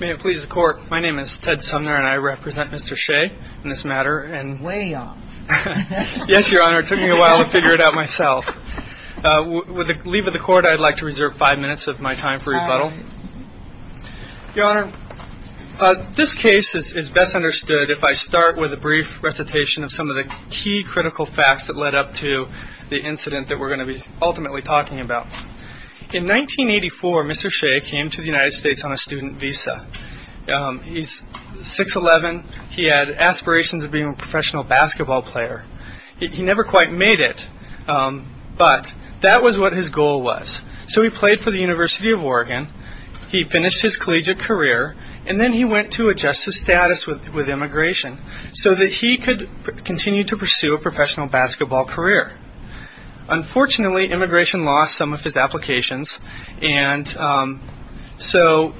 May it please the Court, my name is Ted Sumner and I represent Mr. Shea in this matter. Way off. Yes, Your Honor, it took me a while to figure it out myself. With the leave of the Court, I'd like to reserve five minutes of my time for rebuttal. Your Honor, this case is best understood if I start with a brief recitation of some of the key critical facts that led up to the incident that we're going to be ultimately talking about. In 1984, Mr. Shea came to the United States on a student visa. He's 6'11", he had aspirations of being a professional basketball player. He never quite made it, but that was what his goal was. So he played for the University of Oregon, he finished his collegiate career, and then he went to adjust his status with immigration so that he could continue to pursue a professional basketball career. Unfortunately, immigration lost some of his applications, and so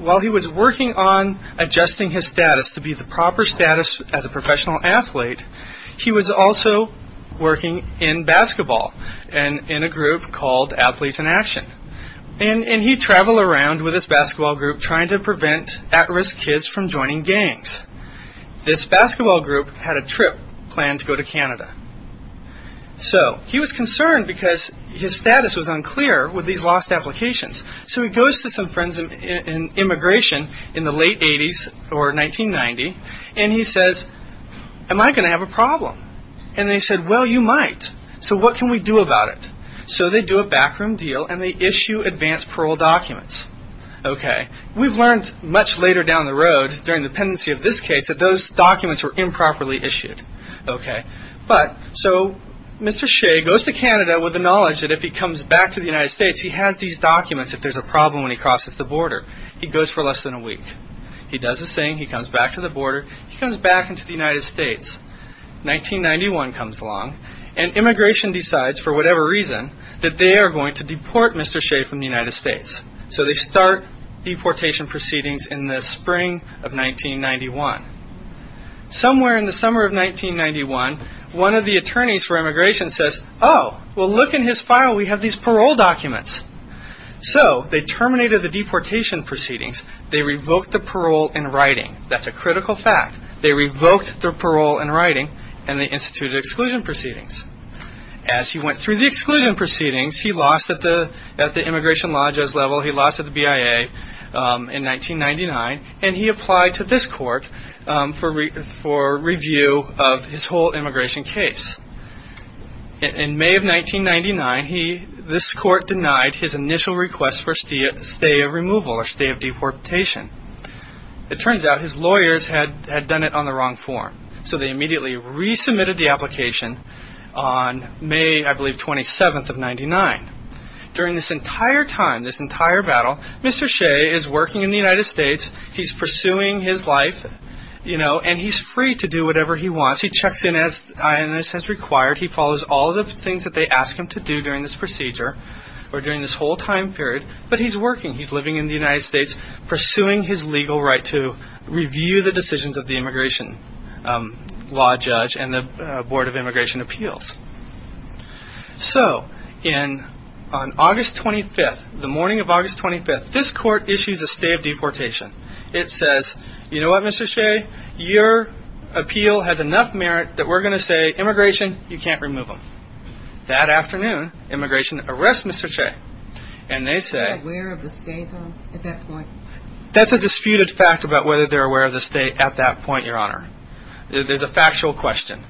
while he was working on adjusting his status to be the proper status as a professional athlete, he was also working in basketball in a group called Athletes in Action. And he'd travel around with his basketball group trying to prevent at-risk kids from joining gangs. This basketball group had a trip planned to go to Canada. So he was concerned because his status was unclear with these lost applications. So he goes to some friends in immigration in the late 80s or 1990, and he says, am I going to have a problem? And they said, well, you might. So what can we do about it? So they do a backroom deal and they issue advance parole documents. We've learned much later down the road during the pendency of this case that those documents were improperly issued. So Mr. Shea goes to Canada with the knowledge that if he comes back to the United States, he has these documents if there's a problem when he crosses the border. He goes for less than a week. He does his thing. He comes back to the border. He comes back into the United States. 1991 comes along, and immigration decides, for whatever reason, that they are going to deport Mr. Shea from the United States. So they start deportation proceedings in the spring of 1991. Somewhere in the summer of 1991, one of the attorneys for immigration says, oh, well, look in his file. We have these parole documents. So they terminated the deportation proceedings. They revoked the parole in writing. That's a critical fact. They revoked the parole in writing, and they instituted exclusion proceedings. As he went through the exclusion proceedings, he lost at the immigration lodges level. He lost at the BIA in 1999. And he applied to this court for review of his whole immigration case. In May of 1999, this court denied his initial request for stay of removal or stay of deportation. It turns out his lawyers had done it on the wrong form. So they immediately resubmitted the application on May, I believe, 27th of 99. During this entire time, this entire battle, Mr. Shea is working in the United States. He's pursuing his life, and he's free to do whatever he wants. He checks in as INS has required. He follows all of the things that they ask him to do during this procedure or during this whole time period, but he's working. He's living in the United States pursuing his legal right to review the decisions of the immigration law judge and the Board of Immigration Appeals. So on August 25th, the morning of August 25th, this court issues a stay of deportation. It says, you know what, Mr. Shea? Your appeal has enough merit that we're going to say, immigration, you can't remove him. That afternoon, immigration arrests Mr. Shea, and they say... Are they aware of the stay, though, at that point? That's a disputed fact about whether they're aware of the stay at that point, Your Honor. There's a factual question.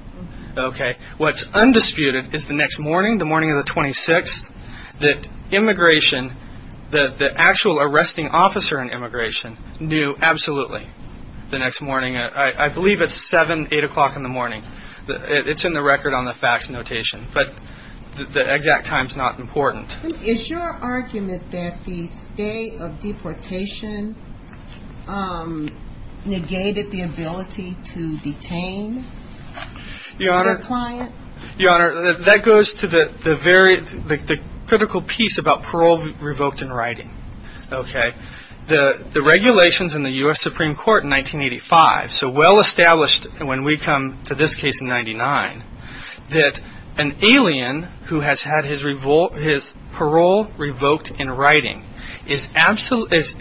What's undisputed is the next morning, the morning of the 26th, that immigration, the actual arresting officer in immigration, knew absolutely the next morning. I believe it's 7, 8 o'clock in the morning. It's in the record on the fax notation, but the exact time is not important. Is your argument that the stay of deportation negated the ability to detain the client? Your Honor, that goes to the critical piece about parole revoked in writing. The regulations in the U.S. Supreme Court in 1985, so well established when we come to this case in 1999, that an alien who has had his parole revoked in writing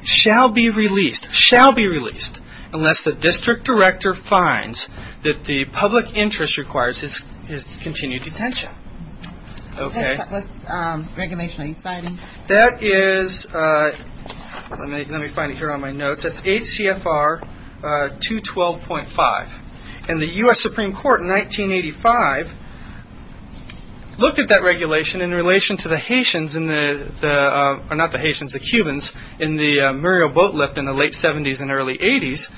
shall be released, shall be released, unless the district director finds that the public interest requires his continued detention. Okay. What's regulation 8 citing? That is, let me find it here on my notes, that's 8 CFR 212.5. And the U.S. Supreme Court in 1985 looked at that regulation in relation to the Haitians, or not the Haitians, the Cubans, in the Muriel Boatlift in the late 70s and early 80s,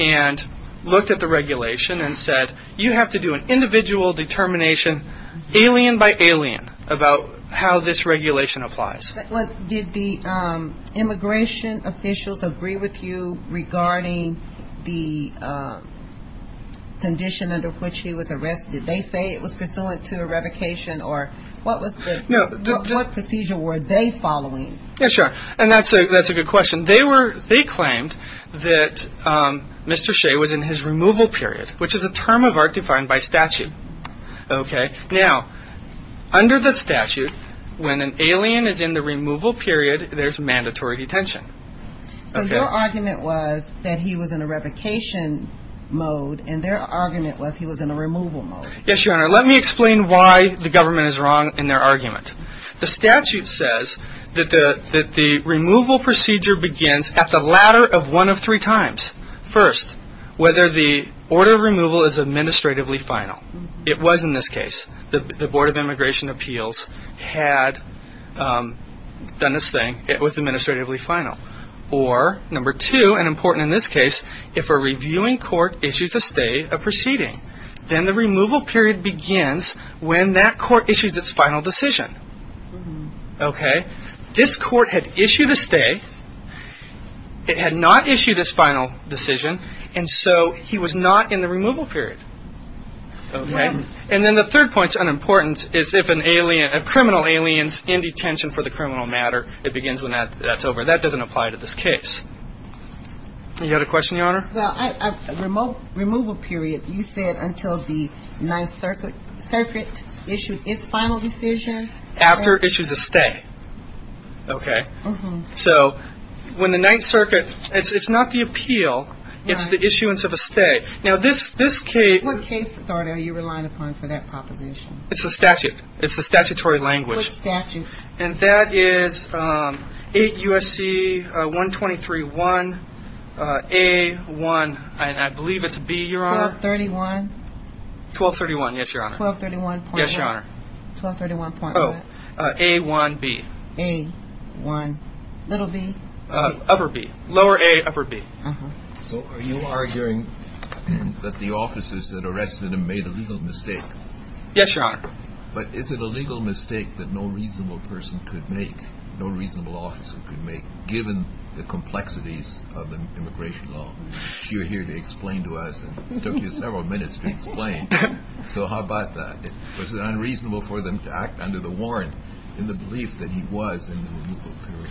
and looked at the regulation and said, you have to do an individual determination alien by alien about how this regulation applies. Did the immigration officials agree with you regarding the condition under which he was arrested? Did they say it was pursuant to a revocation, or what procedure were they following? Yeah, sure. And that's a good question. They claimed that Mr. Shea was in his removal period, which is a term of art defined by statute. Okay. Now, under the statute, when an alien is in the removal period, there's mandatory detention. So your argument was that he was in a revocation mode, and their argument was he was in a removal mode. Yes, Your Honor. Let me explain why the government is wrong in their argument. The statute says that the removal procedure begins at the latter of one of three times. It was in this case. The Board of Immigration Appeals had done its thing. It was administratively final. Or number two, and important in this case, if a reviewing court issues a stay of proceeding, then the removal period begins when that court issues its final decision. Okay. This court had issued a stay. It had not issued its final decision, and so he was not in the removal period. Okay. And then the third point is unimportant, is if a criminal alien is in detention for the criminal matter, it begins when that's over. That doesn't apply to this case. You had a question, Your Honor? Well, removal period, you said until the Ninth Circuit issued its final decision. After it issues a stay. Okay. So when the Ninth Circuit – it's not the appeal. It's the issuance of a stay. Now, this case – What case authority are you relying upon for that proposition? It's the statute. It's the statutory language. What statute? And that is 8 U.S.C. 123-1-A-1, and I believe it's B, Your Honor. 1231? 1231, yes, Your Honor. 1231.1? Yes, Your Honor. 1231.1? Oh, A-1-B. A-1-b. Upper B. Lower A, upper B. So are you arguing that the officers that arrested him made a legal mistake? Yes, Your Honor. But is it a legal mistake that no reasonable person could make, no reasonable officer could make, given the complexities of the immigration law that you're here to explain to us? It took you several minutes to explain, so how about that? Was it unreasonable for them to act under the warrant in the belief that he was in the removal period?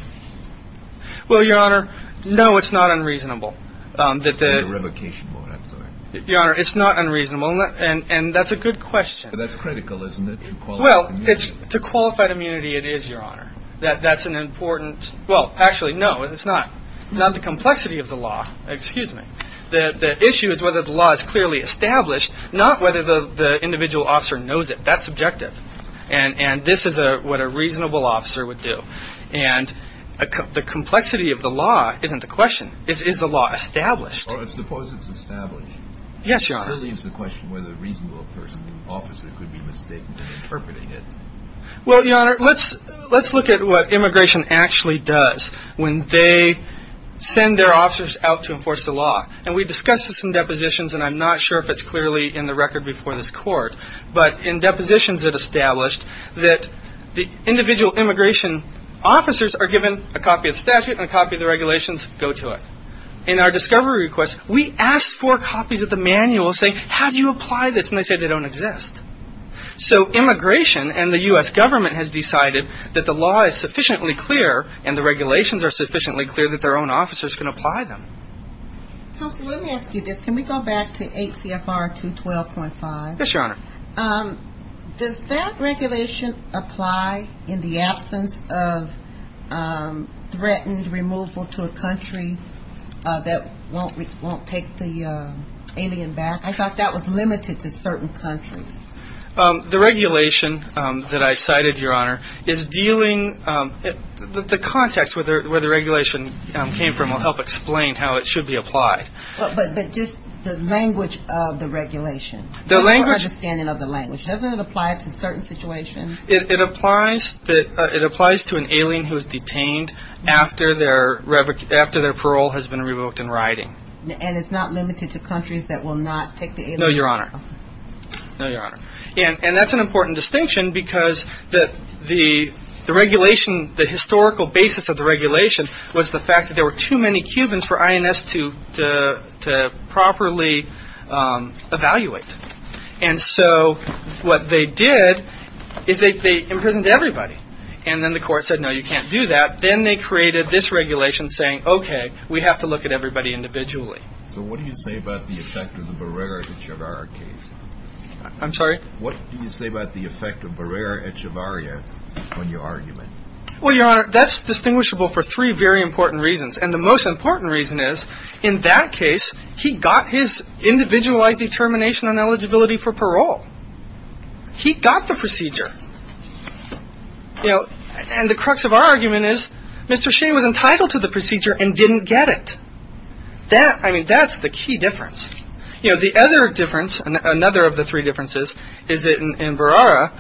Well, Your Honor, no, it's not unreasonable. In the revocation mode, I'm sorry. Your Honor, it's not unreasonable, and that's a good question. But that's critical, isn't it, to qualified immunity? Well, to qualified immunity it is, Your Honor. That's an important – well, actually, no, it's not. Not the complexity of the law, excuse me. The issue is whether the law is clearly established, not whether the individual officer knows it. That's subjective. And this is what a reasonable officer would do. And the complexity of the law isn't the question. Is the law established? Suppose it's established. Yes, Your Honor. That leaves the question whether a reasonable person, officer, could be mistaken in interpreting it. Well, Your Honor, let's look at what immigration actually does when they send their officers out to enforce the law. And we discussed this in depositions, and I'm not sure if it's clearly in the record before this Court. But in depositions that established that the individual immigration officers are given a copy of the statute and a copy of the regulations go to it. In our discovery request, we asked for copies of the manual saying, how do you apply this? And they said they don't exist. So immigration and the U.S. government has decided that the law is sufficiently clear and the regulations are sufficiently clear that their own officers can apply them. Counsel, let me ask you this. Can we go back to 8 CFR 212.5? Yes, Your Honor. Does that regulation apply in the absence of threatened removal to a country that won't take the alien back? I thought that was limited to certain countries. The regulation that I cited, Your Honor, is dealing – the context where the regulation came from will help explain how it should be applied. But just the language of the regulation, your understanding of the language. Doesn't it apply to certain situations? It applies to an alien who is detained after their parole has been revoked in writing. And it's not limited to countries that will not take the alien? No, Your Honor. No, Your Honor. And that's an important distinction because the regulation – the historical basis of the regulation was the fact that there were too many Cubans for INS to properly evaluate. And so what they did is they imprisoned everybody. And then the court said, no, you can't do that. Then they created this regulation saying, okay, we have to look at everybody individually. So what do you say about the effect of the Barrera-Echevarria case? I'm sorry? What do you say about the effect of Barrera-Echevarria on your argument? Well, Your Honor, that's distinguishable for three very important reasons. And the most important reason is in that case he got his individualized determination on eligibility for parole. He got the procedure. And the crux of our argument is Mr. Sheehan was entitled to the procedure and didn't get it. I mean, that's the key difference. You know, the other difference, another of the three differences, is that in Barrera,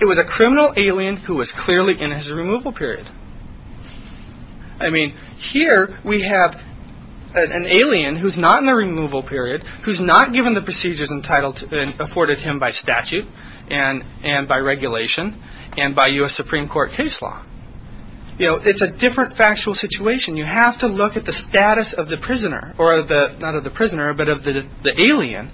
it was a criminal alien who was clearly in his removal period. I mean, here we have an alien who's not in the removal period, who's not given the procedures and afforded him by statute and by regulation and by U.S. Supreme Court case law. You know, it's a different factual situation. You have to look at the status of the prisoner, or not of the prisoner, but of the alien,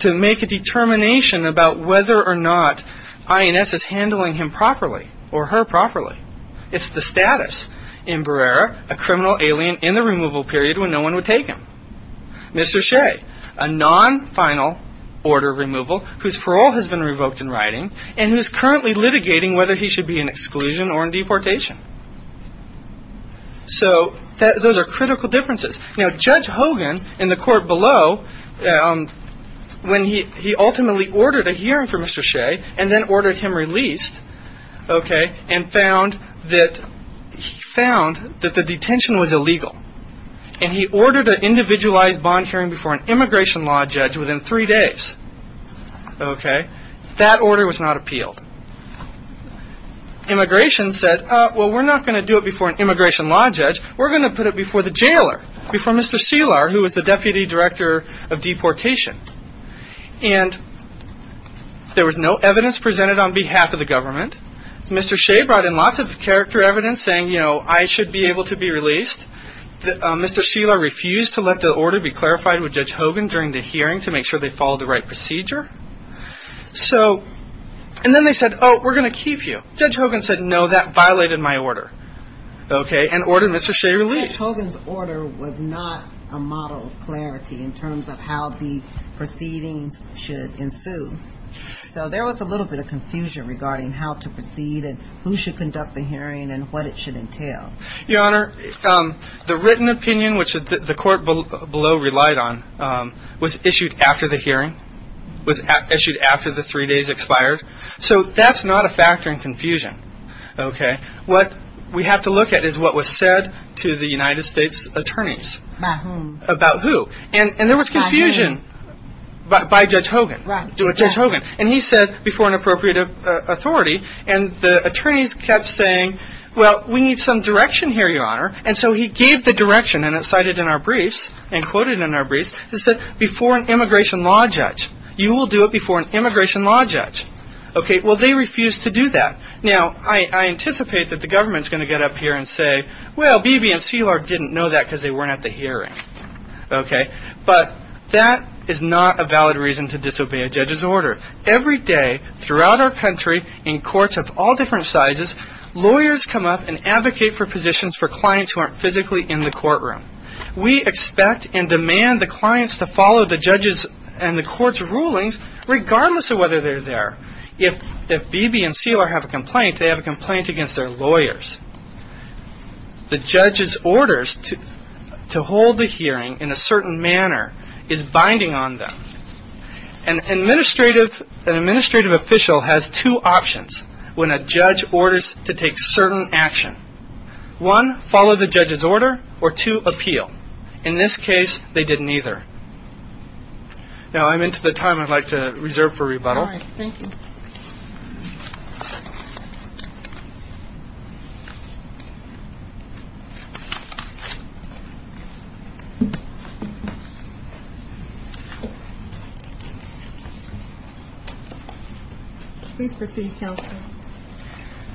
to make a determination about whether or not INS is handling him properly or her properly. It's the status in Barrera, a criminal alien in the removal period when no one would take him. Mr. Shea, a non-final order of removal whose parole has been revoked in writing and who's currently litigating whether he should be in exclusion or in deportation. So those are critical differences. Now, Judge Hogan in the court below, when he ultimately ordered a hearing for Mr. Shea and then ordered him released, okay, and found that the detention was illegal, and he ordered an individualized bond hearing before an immigration law judge within three days, okay, that order was not appealed. Immigration said, well, we're not going to do it before an immigration law judge. We're going to put it before the jailer, before Mr. Selar, who was the deputy director of deportation. And there was no evidence presented on behalf of the government. Mr. Shea brought in lots of character evidence saying, you know, I should be able to be released. Mr. Selar refused to let the order be clarified with Judge Hogan during the hearing to make sure they followed the right procedure. So and then they said, oh, we're going to keep you. Judge Hogan said, no, that violated my order, okay, and ordered Mr. Shea released. Judge Hogan's order was not a model of clarity in terms of how the proceedings should ensue. So there was a little bit of confusion regarding how to proceed and who should conduct the hearing and what it should entail. Your Honor, the written opinion, which the court below relied on, was issued after the hearing, was issued after the three days expired. So that's not a factor in confusion, okay. What we have to look at is what was said to the United States attorneys. About who? About who. And there was confusion by Judge Hogan. And he said before an appropriate authority, and the attorneys kept saying, well, we need some direction here, Your Honor. And so he gave the direction, and it's cited in our briefs and quoted in our briefs. It said before an immigration law judge. You will do it before an immigration law judge. Okay, well, they refused to do that. Now, I anticipate that the government is going to get up here and say, well, Beebe and Szilard didn't know that because they weren't at the hearing, okay. But that is not a valid reason to disobey a judge's order. Every day throughout our country in courts of all different sizes, lawyers come up and advocate for positions for clients who aren't physically in the courtroom. We expect and demand the clients to follow the judge's and the court's rulings regardless of whether they're there. If Beebe and Szilard have a complaint, they have a complaint against their lawyers. The judge's orders to hold the hearing in a certain manner is binding on them. An administrative official has two options when a judge orders to take certain action. One, follow the judge's order, or two, appeal. In this case, they did neither. Now, I'm into the time I'd like to reserve for rebuttal. All right, thank you. Please proceed, counsel.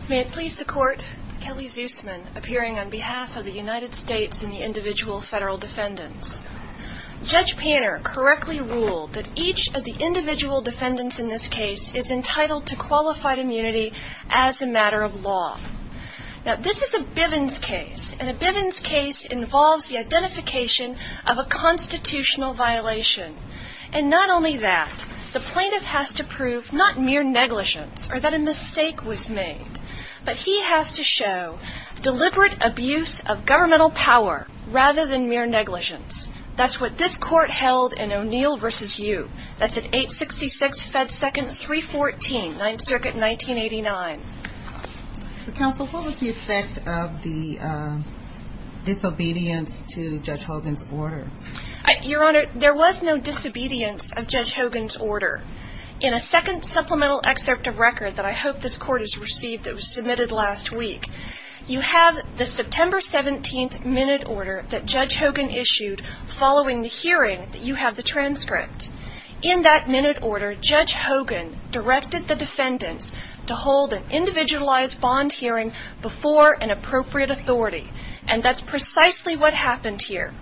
May it please the court, Kelly Zusman, appearing on behalf of the United States and the individual federal defendants. Judge Panner correctly ruled that each of the individual defendants in this case is entitled to qualified immunity as a matter of law. Now, this is a Bivens case, and a Bivens case involves the identification of a constitutional violation. And not only that, the plaintiff has to prove not mere negligence or that a mistake was made, but he has to show deliberate abuse of governmental power rather than mere negligence. That's what this court held in O'Neill v. U. That's at 866 Fed Second 314, 9th Circuit, 1989. Counsel, what was the effect of the disobedience to Judge Hogan's order? Your Honor, there was no disobedience of Judge Hogan's order. In a second supplemental excerpt of record that I hope this court has received that was submitted last week, you have the September 17th minute order that Judge Hogan issued following the hearing that you have the transcript. In that minute order, Judge Hogan directed the defendants to hold an individualized bond hearing before an appropriate authority. And that's precisely what happened here.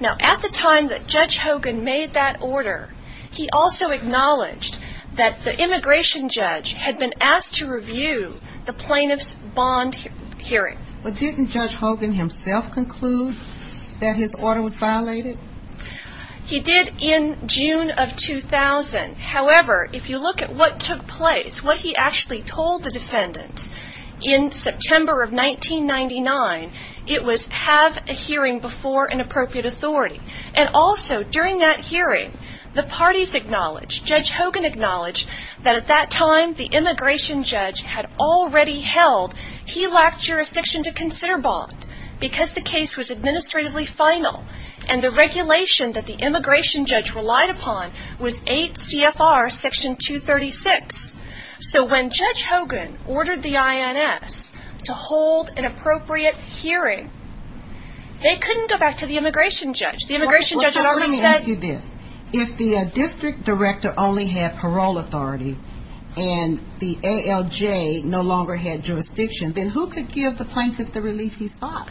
Now, at the time that Judge Hogan made that order, he also acknowledged that the immigration judge had been asked to review the plaintiff's bond hearing. But didn't Judge Hogan himself conclude that his order was violated? He did in June of 2000. However, if you look at what took place, what he actually told the defendants in September of 1999, it was have a hearing before an appropriate authority. And also, during that hearing, the parties acknowledged, Judge Hogan acknowledged, that at that time the immigration judge had already held he lacked jurisdiction to consider bond because the case was administratively final and the regulation that the immigration judge relied upon was 8 CFR Section 236. So when Judge Hogan ordered the INS to hold an appropriate hearing, they couldn't go back to the immigration judge. The immigration judge had already said... Let me ask you this. If the district director only had parole authority and the ALJ no longer had jurisdiction, then who could give the plaintiff the relief he sought?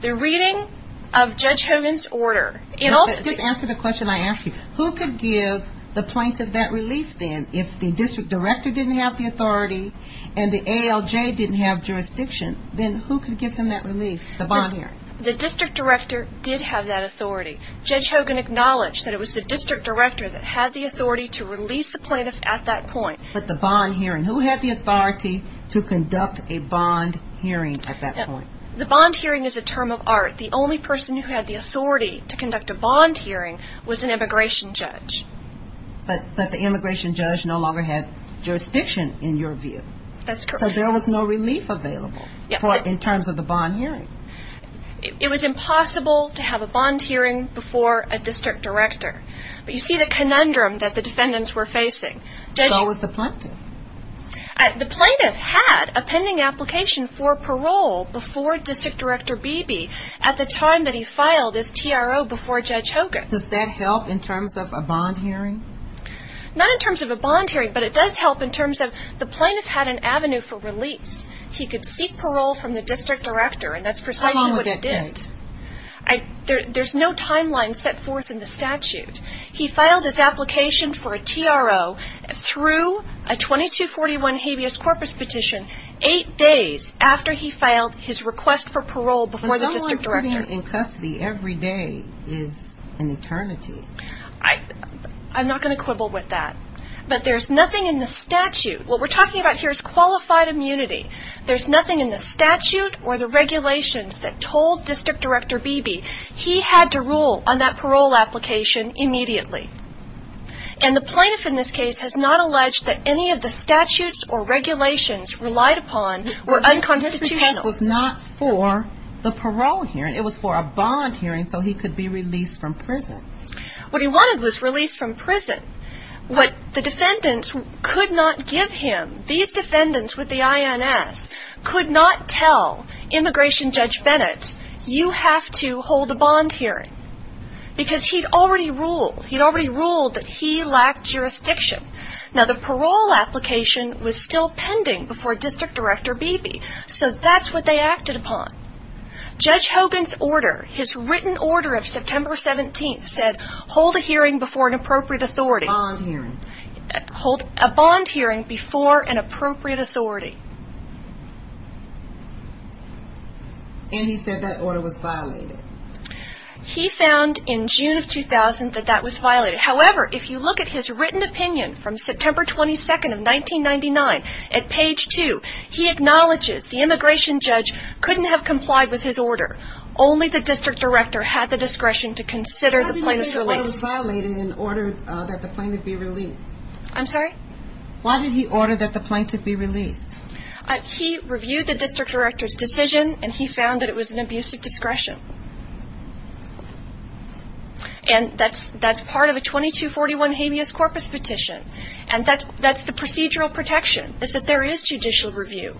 The reading of Judge Hogan's order... Just answer the question I asked you. Who could give the plaintiff that relief then? If the district director didn't have the authority and the ALJ didn't have jurisdiction, then who could give him that relief? The bond hearing. The district director did have that authority. Judge Hogan acknowledged that it was the district director that had the authority to release the plaintiff at that point. But the bond hearing. Who had the authority to conduct a bond hearing at that point? The bond hearing is a term of art. The only person who had the authority to conduct a bond hearing was an immigration judge. But the immigration judge no longer had jurisdiction, in your view. That's correct. So there was no relief available in terms of the bond hearing. It was impossible to have a bond hearing before a district director. But you see the conundrum that the defendants were facing. So was the plaintiff. The plaintiff had a pending application for parole before district director Beebe at the time that he filed his TRO before Judge Hogan. Does that help in terms of a bond hearing? Not in terms of a bond hearing, but it does help in terms of the plaintiff had an avenue for release. He could seek parole from the district director, and that's precisely what he did. How long would that take? There's no timeline set forth in the statute. He filed his application for a TRO through a 2241 habeas corpus petition eight days after he filed his request for parole before the district director. But someone sitting in custody every day is an eternity. I'm not going to quibble with that. But there's nothing in the statute. What we're talking about here is qualified immunity. There's nothing in the statute or the regulations that told district director Beebe he had to rule on that parole application immediately. And the plaintiff in this case has not alleged that any of the statutes or regulations relied upon were unconstitutional. This request was not for the parole hearing. It was for a bond hearing so he could be released from prison. What he wanted was release from prison. What the defendants could not give him, these defendants with the INS, could not tell immigration judge Bennett you have to hold a bond hearing because he'd already ruled that he lacked jurisdiction. Now, the parole application was still pending before district director Beebe, so that's what they acted upon. Judge Hogan's order, his written order of September 17th, hold a hearing before an appropriate authority. A bond hearing. Hold a bond hearing before an appropriate authority. And he said that order was violated. He found in June of 2000 that that was violated. However, if you look at his written opinion from September 22nd of 1999 at page 2, he acknowledges the immigration judge couldn't have complied with his order. Only the district director had the discretion to consider the plaintiff's release. How did you say the order was violated in order that the plaintiff be released? I'm sorry? Why did he order that the plaintiff be released? He reviewed the district director's decision and he found that it was an abuse of discretion. And that's part of a 2241 habeas corpus petition. And that's the procedural protection is that there is judicial review.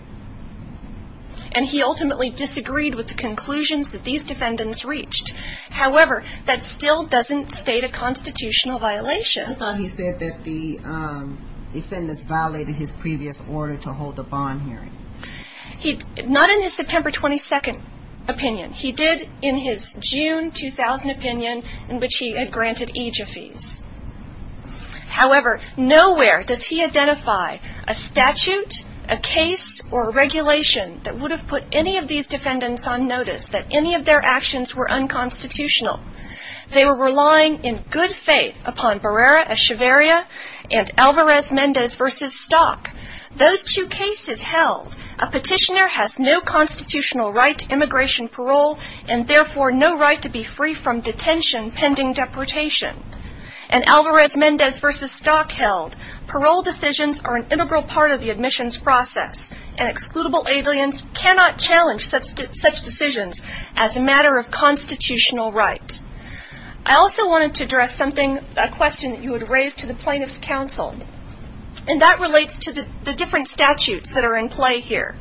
And he ultimately disagreed with the conclusions that these defendants reached. However, that still doesn't state a constitutional violation. I thought he said that the defendants violated his previous order to hold a bond hearing. Not in his September 22nd opinion. He did in his June 2000 opinion in which he had granted AJA fees. However, nowhere does he identify a statute, a case, or a regulation that would have put any of these defendants on notice that any of their actions were unconstitutional. They were relying in good faith upon Barrera-Echevarria and Alvarez-Mendez v. Stock. Those two cases held, a petitioner has no constitutional right to immigration parole and therefore no right to be free from detention pending deportation. And Alvarez-Mendez v. Stock held parole decisions are an integral part of the admissions process and excludable aliens cannot challenge such decisions as a matter of constitutional right. I also wanted to address a question that you had raised to the plaintiff's counsel. And that relates to the different statutes that are in play here.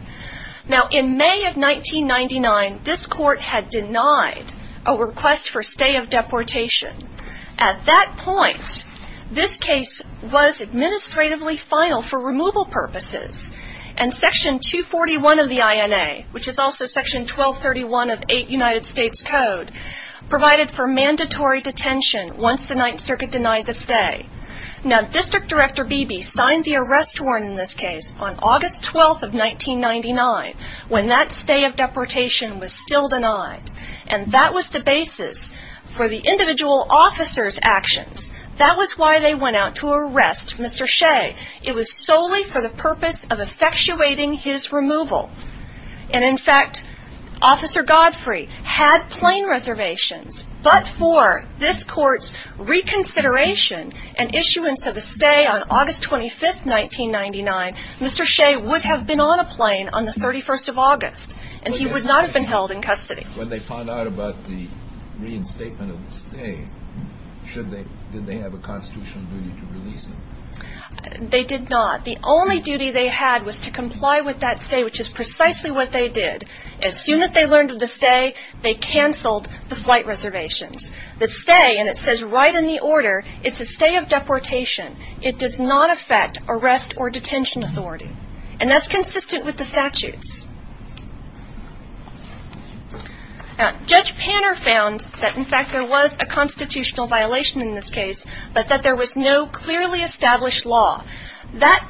Now, in May of 1999, this court had denied a request for stay of deportation At that point, this case was administratively final for removal purposes. And Section 241 of the INA, which is also Section 1231 of 8 United States Code, provided for mandatory detention once the Ninth Circuit denied the stay. Now, District Director Beebe signed the arrest warrant in this case on August 12th of 1999 when that stay of deportation was still denied. And that was the basis for the individual officer's actions. That was why they went out to arrest Mr. Shea. It was solely for the purpose of effectuating his removal. And in fact, Officer Godfrey had plane reservations. But for this court's reconsideration and issuance of a stay on August 25th, 1999, Mr. Shea would have been on a plane on the 31st of August. And he would not have been held in custody. When they found out about the reinstatement of the stay, did they have a constitutional duty to release him? They did not. The only duty they had was to comply with that stay, which is precisely what they did. As soon as they learned of the stay, they canceled the flight reservations. The stay, and it says right in the order, it's a stay of deportation. It does not affect arrest or detention authority. And that's consistent with the statutes. Now, Judge Panner found that, in fact, there was a constitutional violation in this case, but that there was no clearly established law. That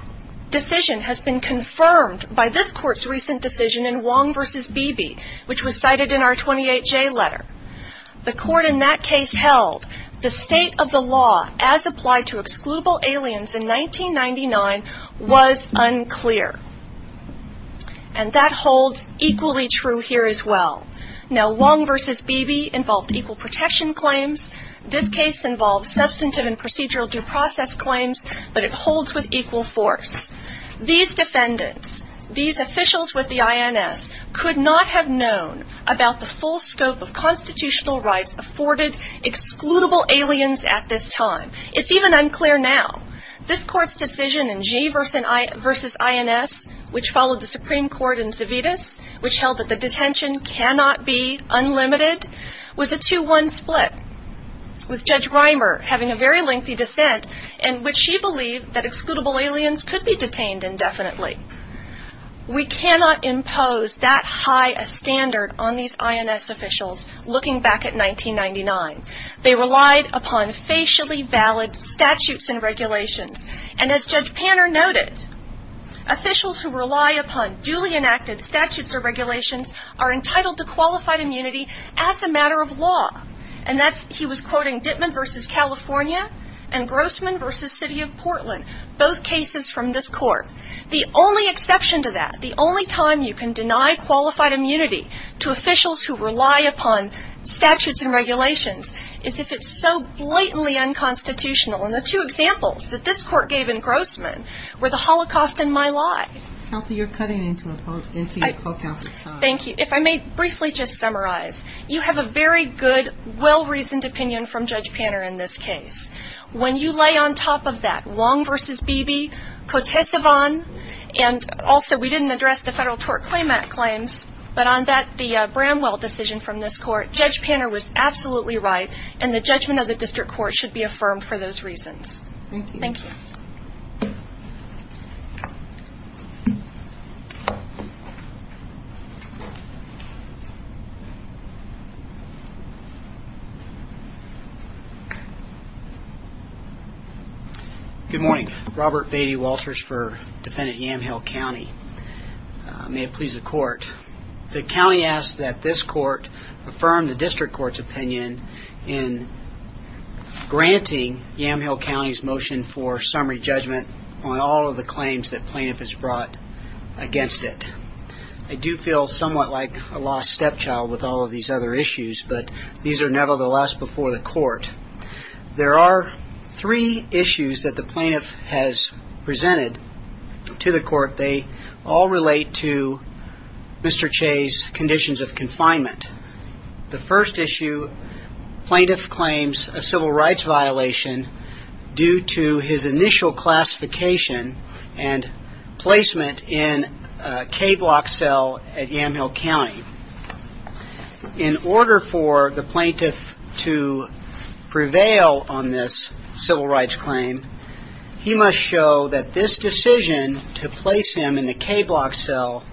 decision has been confirmed by this court's recent decision in Wong v. Beebe, which was cited in our 28J letter. The court in that case held the state of the law as applied to excludable aliens in 1999 was unclear. And that holds equally true here as well. Now, Wong v. Beebe involved equal protection claims. This case involves substantive and procedural due process claims, but it holds with equal force. These defendants, these officials with the INS, could not have known about the full scope of constitutional rights afforded excludable aliens at this time. It's even unclear now. This court's decision in Gee v. INS, which followed the Supreme Court in Savitas, which held that the detention cannot be unlimited, was a 2-1 split, with Judge Reimer having a very lengthy dissent in which she believed that excludable aliens could be detained indefinitely. We cannot impose that high a standard on these INS officials looking back at 1999. They relied upon facially valid statutes and regulations. And as Judge Panner noted, officials who rely upon duly enacted statutes or regulations are entitled to qualified immunity as a matter of law. And he was quoting Dittman v. California and Grossman v. City of Portland, both cases from this court. The only exception to that, the only time you can deny qualified immunity to officials who rely upon statutes and regulations is if it's so blatantly unconstitutional. And the two examples that this court gave in Grossman were the Holocaust and My Lie. Counselor, you're cutting into your co-counsel's time. Thank you. If I may briefly just summarize. You have a very good, well-reasoned opinion from Judge Panner in this case. When you lay on top of that Wong v. Beebe, Cotes-Ivan, and also we didn't address the federal tort claim claims, but on the Bramwell decision from this court, Judge Panner was absolutely right, and the judgment of the district court should be affirmed for those reasons. Thank you. Good morning. Robert Beatty Walters for Defendant Yamhill County. May it please the court. The county asks that this court affirm the district court's opinion in granting Yamhill County's motion for summary judgment on all of the claims that plaintiff has brought against it. I do feel somewhat like a lost stepchild with all of these other issues, but these are nevertheless before the court. There are three issues that the plaintiff has presented to the court. They all relate to Mr. Che's conditions of confinement. The first issue, plaintiff claims a civil rights violation due to his initial classification and placement in a K-block cell at Yamhill County. In order for the plaintiff to prevail on this civil rights claim, he must show that this decision to place him in the K-block cell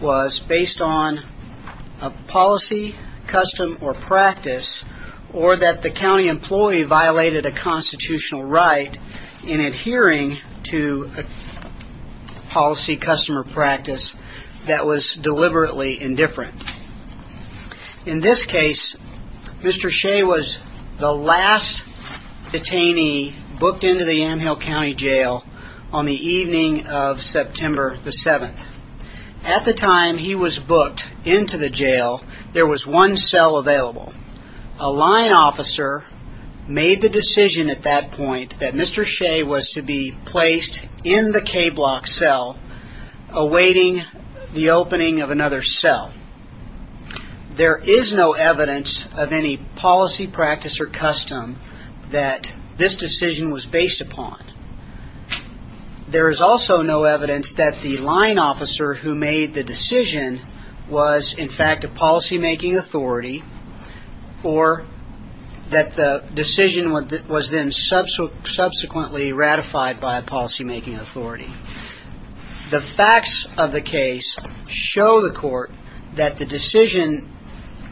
was based on a policy, custom, or practice, or that the county employee violated a constitutional right in adhering to a policy, custom, or practice that was deliberately indifferent. In this case, Mr. Che was the last detainee booked into the Yamhill County Jail on the evening of September the 7th. At the time he was booked into the jail, there was one cell available. A line officer made the decision at that point that Mr. Che was to be placed in the K-block cell, awaiting the opening of another cell. There is no evidence of any policy, practice, or custom that this decision was based upon. There is also no evidence that the line officer who made the decision was, in fact, a policymaking authority, or that the decision was then subsequently ratified by a policymaking authority. The facts of the case show the court that the decision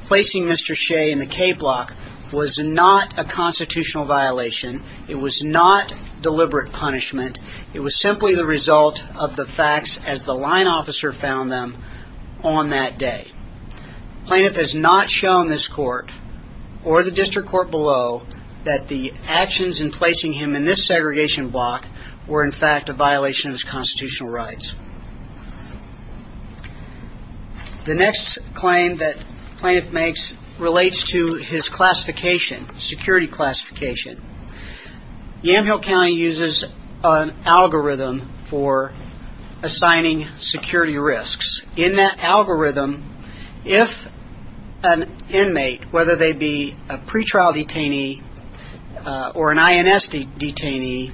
placing Mr. Che in the K-block was not a constitutional violation, it was not deliberate punishment, it was simply the result of the facts as the line officer found them on that day. The plaintiff has not shown this court, or the district court below, that the actions in placing him in this segregation block were, in fact, a violation of his constitutional rights. The next claim that the plaintiff makes relates to his classification, security classification. Yamhill County uses an algorithm for assigning security risks. In that algorithm, if an inmate, whether they be a pretrial detainee or an INS detainee,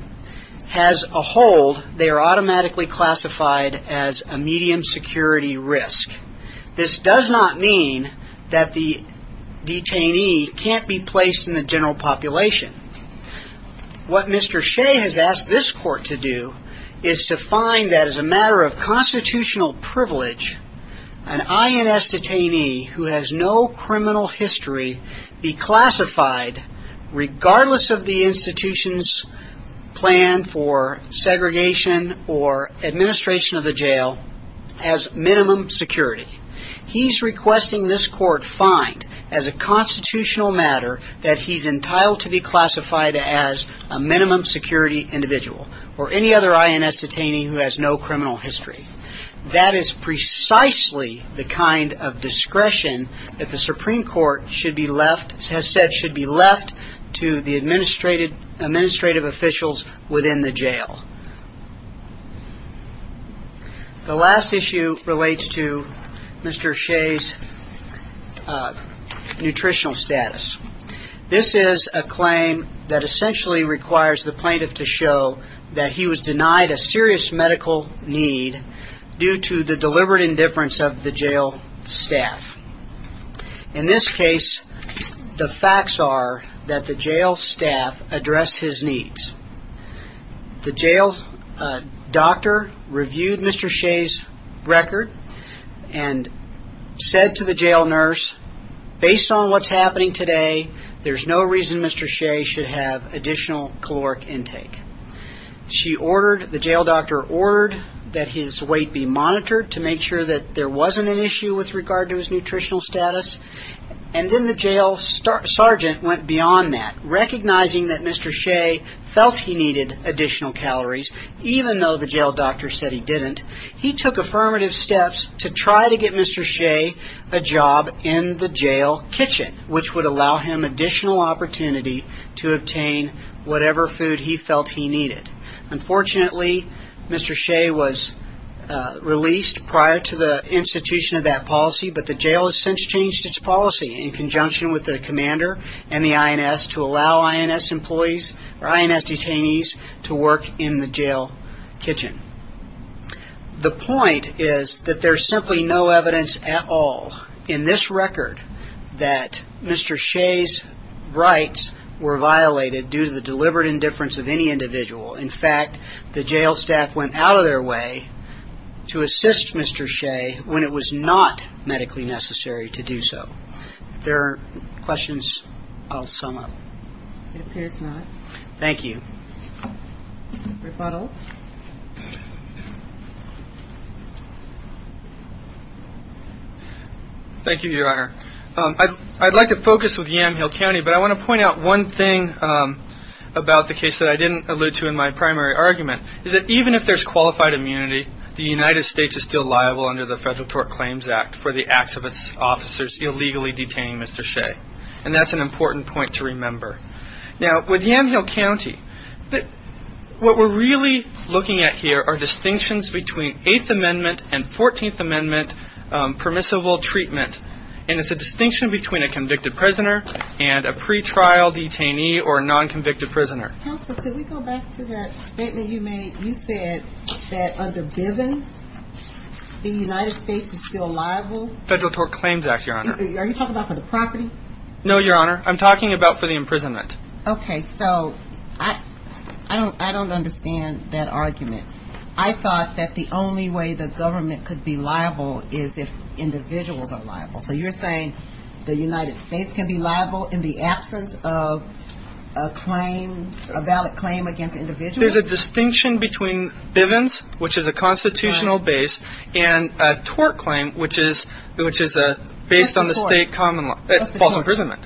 has a hold, they are automatically classified as a medium security risk. This does not mean that the detainee can't be placed in the general population. What Mr. Che has asked this court to do is to find that as a matter of constitutional privilege, an INS detainee who has no criminal history be classified, regardless of the institution's plan for segregation or administration of the jail, as minimum security. He's requesting this court find, as a constitutional matter, that he's entitled to be classified as a minimum security individual, or any other INS detainee who has no criminal history. That is precisely the kind of discretion that the Supreme Court has said should be left to the administrative officials within the jail. The last issue relates to Mr. Che's nutritional status. This is a claim that essentially requires the plaintiff to show that he was denied a serious medical need by his doctor. This is due to the deliberate indifference of the jail staff. In this case, the facts are that the jail staff addressed his needs. The jail doctor reviewed Mr. Che's record and said to the jail nurse, based on what's happening today, there's no reason Mr. Che should have additional caloric intake. The jail doctor ordered that his weight be monitored to make sure that there wasn't an issue with regard to his nutritional status. And then the jail sergeant went beyond that, recognizing that Mr. Che felt he needed additional calories, even though the jail doctor said he didn't. He took affirmative steps to try to get Mr. Che a job in the jail kitchen, which would allow him additional opportunity to obtain whatever food he felt he needed. Unfortunately, Mr. Che was released prior to the institution of that policy, but the jail has since changed its policy in conjunction with the commander and the INS to allow INS detainees to work in the jail kitchen. The point is that there's simply no evidence at all in this record that Mr. Che's rights were violated due to the deliberate indifference of any individual. In fact, the jail staff went out of their way to assist Mr. Che when it was not medically necessary to do so. If there are questions, I'll sum up. Thank you, Your Honor. I'd like to focus with Yamhill County, but I want to point out one thing about the case that I didn't allude to in my primary argument. It's that even if there's qualified immunity, the United States is still liable under the Federal Tort Claims Act for the acts of its officers illegally detaining Mr. Che. And that's an important point to remember. Now, with Yamhill County, what we're really looking at here are distinctions between Eighth Amendment and Fourteenth Amendment permissible treatment. And it's a distinction between a convicted prisoner and a pretrial detainee or a non-convicted prisoner. Counsel, could we go back to that statement you made? You said that under Bivens, the United States is still liable? No, Your Honor. I'm talking about for the imprisonment. Okay. So I don't understand that argument. I thought that the only way the government could be liable is if individuals are liable. So you're saying the United States can be liable in the absence of a claim, a valid claim against individuals? There's a distinction between Bivens, which is a constitutional base, and a tort claim, which is based on the state common law. False imprisonment.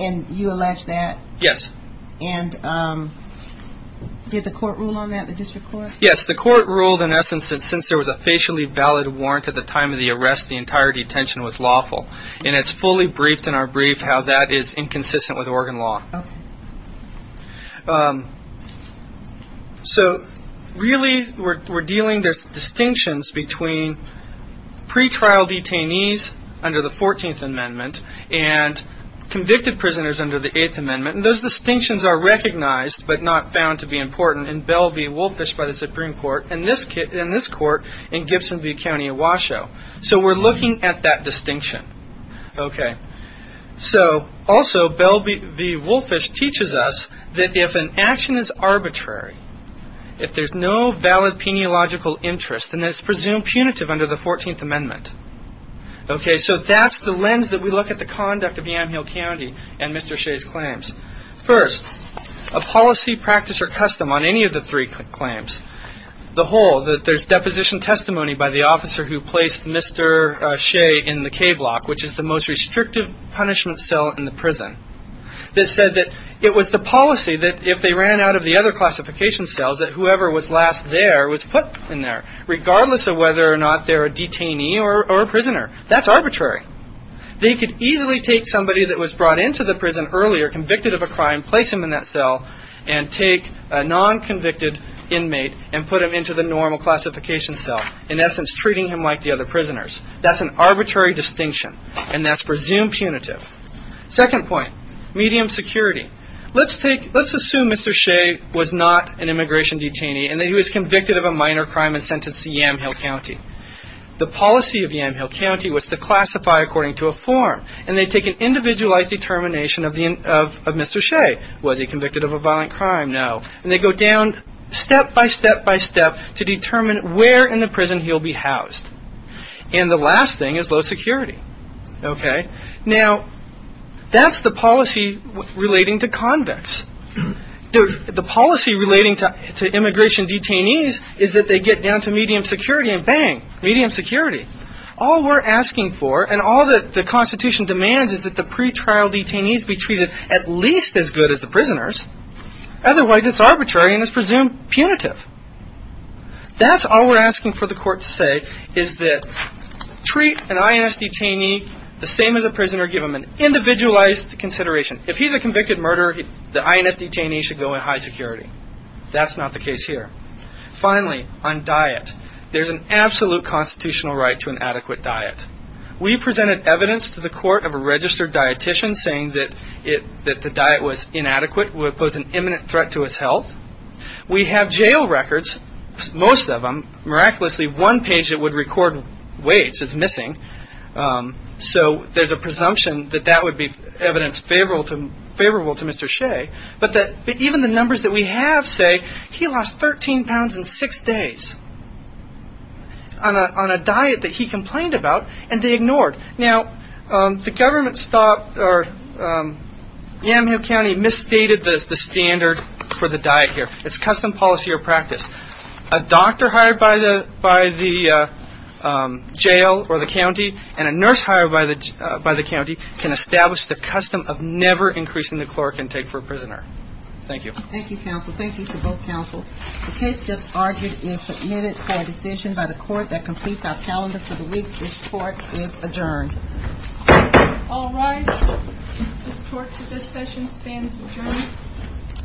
And you allege that? Yes. And did the court rule on that, the district court? Yes. The court ruled, in essence, that since there was a facially valid warrant at the time of the arrest, the entire detention was lawful. And it's fully briefed in our brief how that is inconsistent with Oregon law. So really, we're dealing, there's distinctions between pretrial detainees under the 14th Amendment and convicted prisoners under the 8th Amendment. And those distinctions are recognized but not found to be important in Belle v. Woolfish by the Supreme Court and this court in Gibson v. County of Washoe. So we're looking at that distinction. Also, Belle v. Woolfish teaches us that if an action is arbitrary, if there's no valid peniological interest, then it's presumed punitive under the 14th Amendment. So that's the lens that we look at the conduct of Yamhill County and Mr. Shea's claims. First, a policy, practice, or custom on any of the three claims. The whole, that there's deposition testimony by the officer who placed Mr. Shea in the K-block, which is the most restrictive punishment cell in the prison, that said that it was the policy that if they ran out of the other classification cells, that whoever was last there was put in there, regardless of whether or not they're a detainee or a prisoner. That's arbitrary. They could easily take somebody that was brought into the prison earlier, convicted of a crime, place him in that cell, and take a non-convicted inmate and put him into the normal classification cell, in essence treating him like the other prisoners. That's an arbitrary distinction, and that's presumed punitive. Second point, medium security. Let's assume Mr. Shea was not an immigration detainee and that he was convicted of a minor crime and sentenced to Yamhill County. The policy of Yamhill County was to classify according to a form, and they take an individualized determination of Mr. Shea. Was he convicted of a violent crime? No. And they go down step by step by step to determine where in the prison he'll be housed. And the last thing is low security. Now, that's the policy relating to convicts. The policy relating to immigration detainees is that they get down to medium security, and bang, medium security. All we're asking for, and all that the Constitution demands, is that the pretrial detainees be treated at least as good as the prisoners. Otherwise, it's arbitrary and it's presumed punitive. That's all we're asking for the court to say, is that treat an INS detainee the same as a prisoner, give him an individualized consideration. If he's a convicted murderer, the INS detainee should go in high security. That's not the case here. Finally, on diet. There's an absolute constitutional right to an adequate diet. We presented evidence to the court of a registered dietitian saying that the diet was inadequate, would pose an imminent threat to his health. We have jail records, most of them. Miraculously, one page that would record weights is missing. So there's a presumption that that would be evidence favorable to Mr. Shea. But even the numbers that we have say he lost 13 pounds in six days on a diet that he complained about, and they ignored. Now, Yamhill County misstated the standard for the diet here. It's custom policy or practice. A doctor hired by the jail or the county, and a nurse hired by the county, can establish the custom of never increasing the caloric intake for a prisoner. Thank you. Thank you, counsel. Thank you to both counsel. The case just argued is submitted for a decision by the court that completes our calendar for the week. This court is adjourned. All rise. This court's discussion stands adjourned. Thank you. Thank you.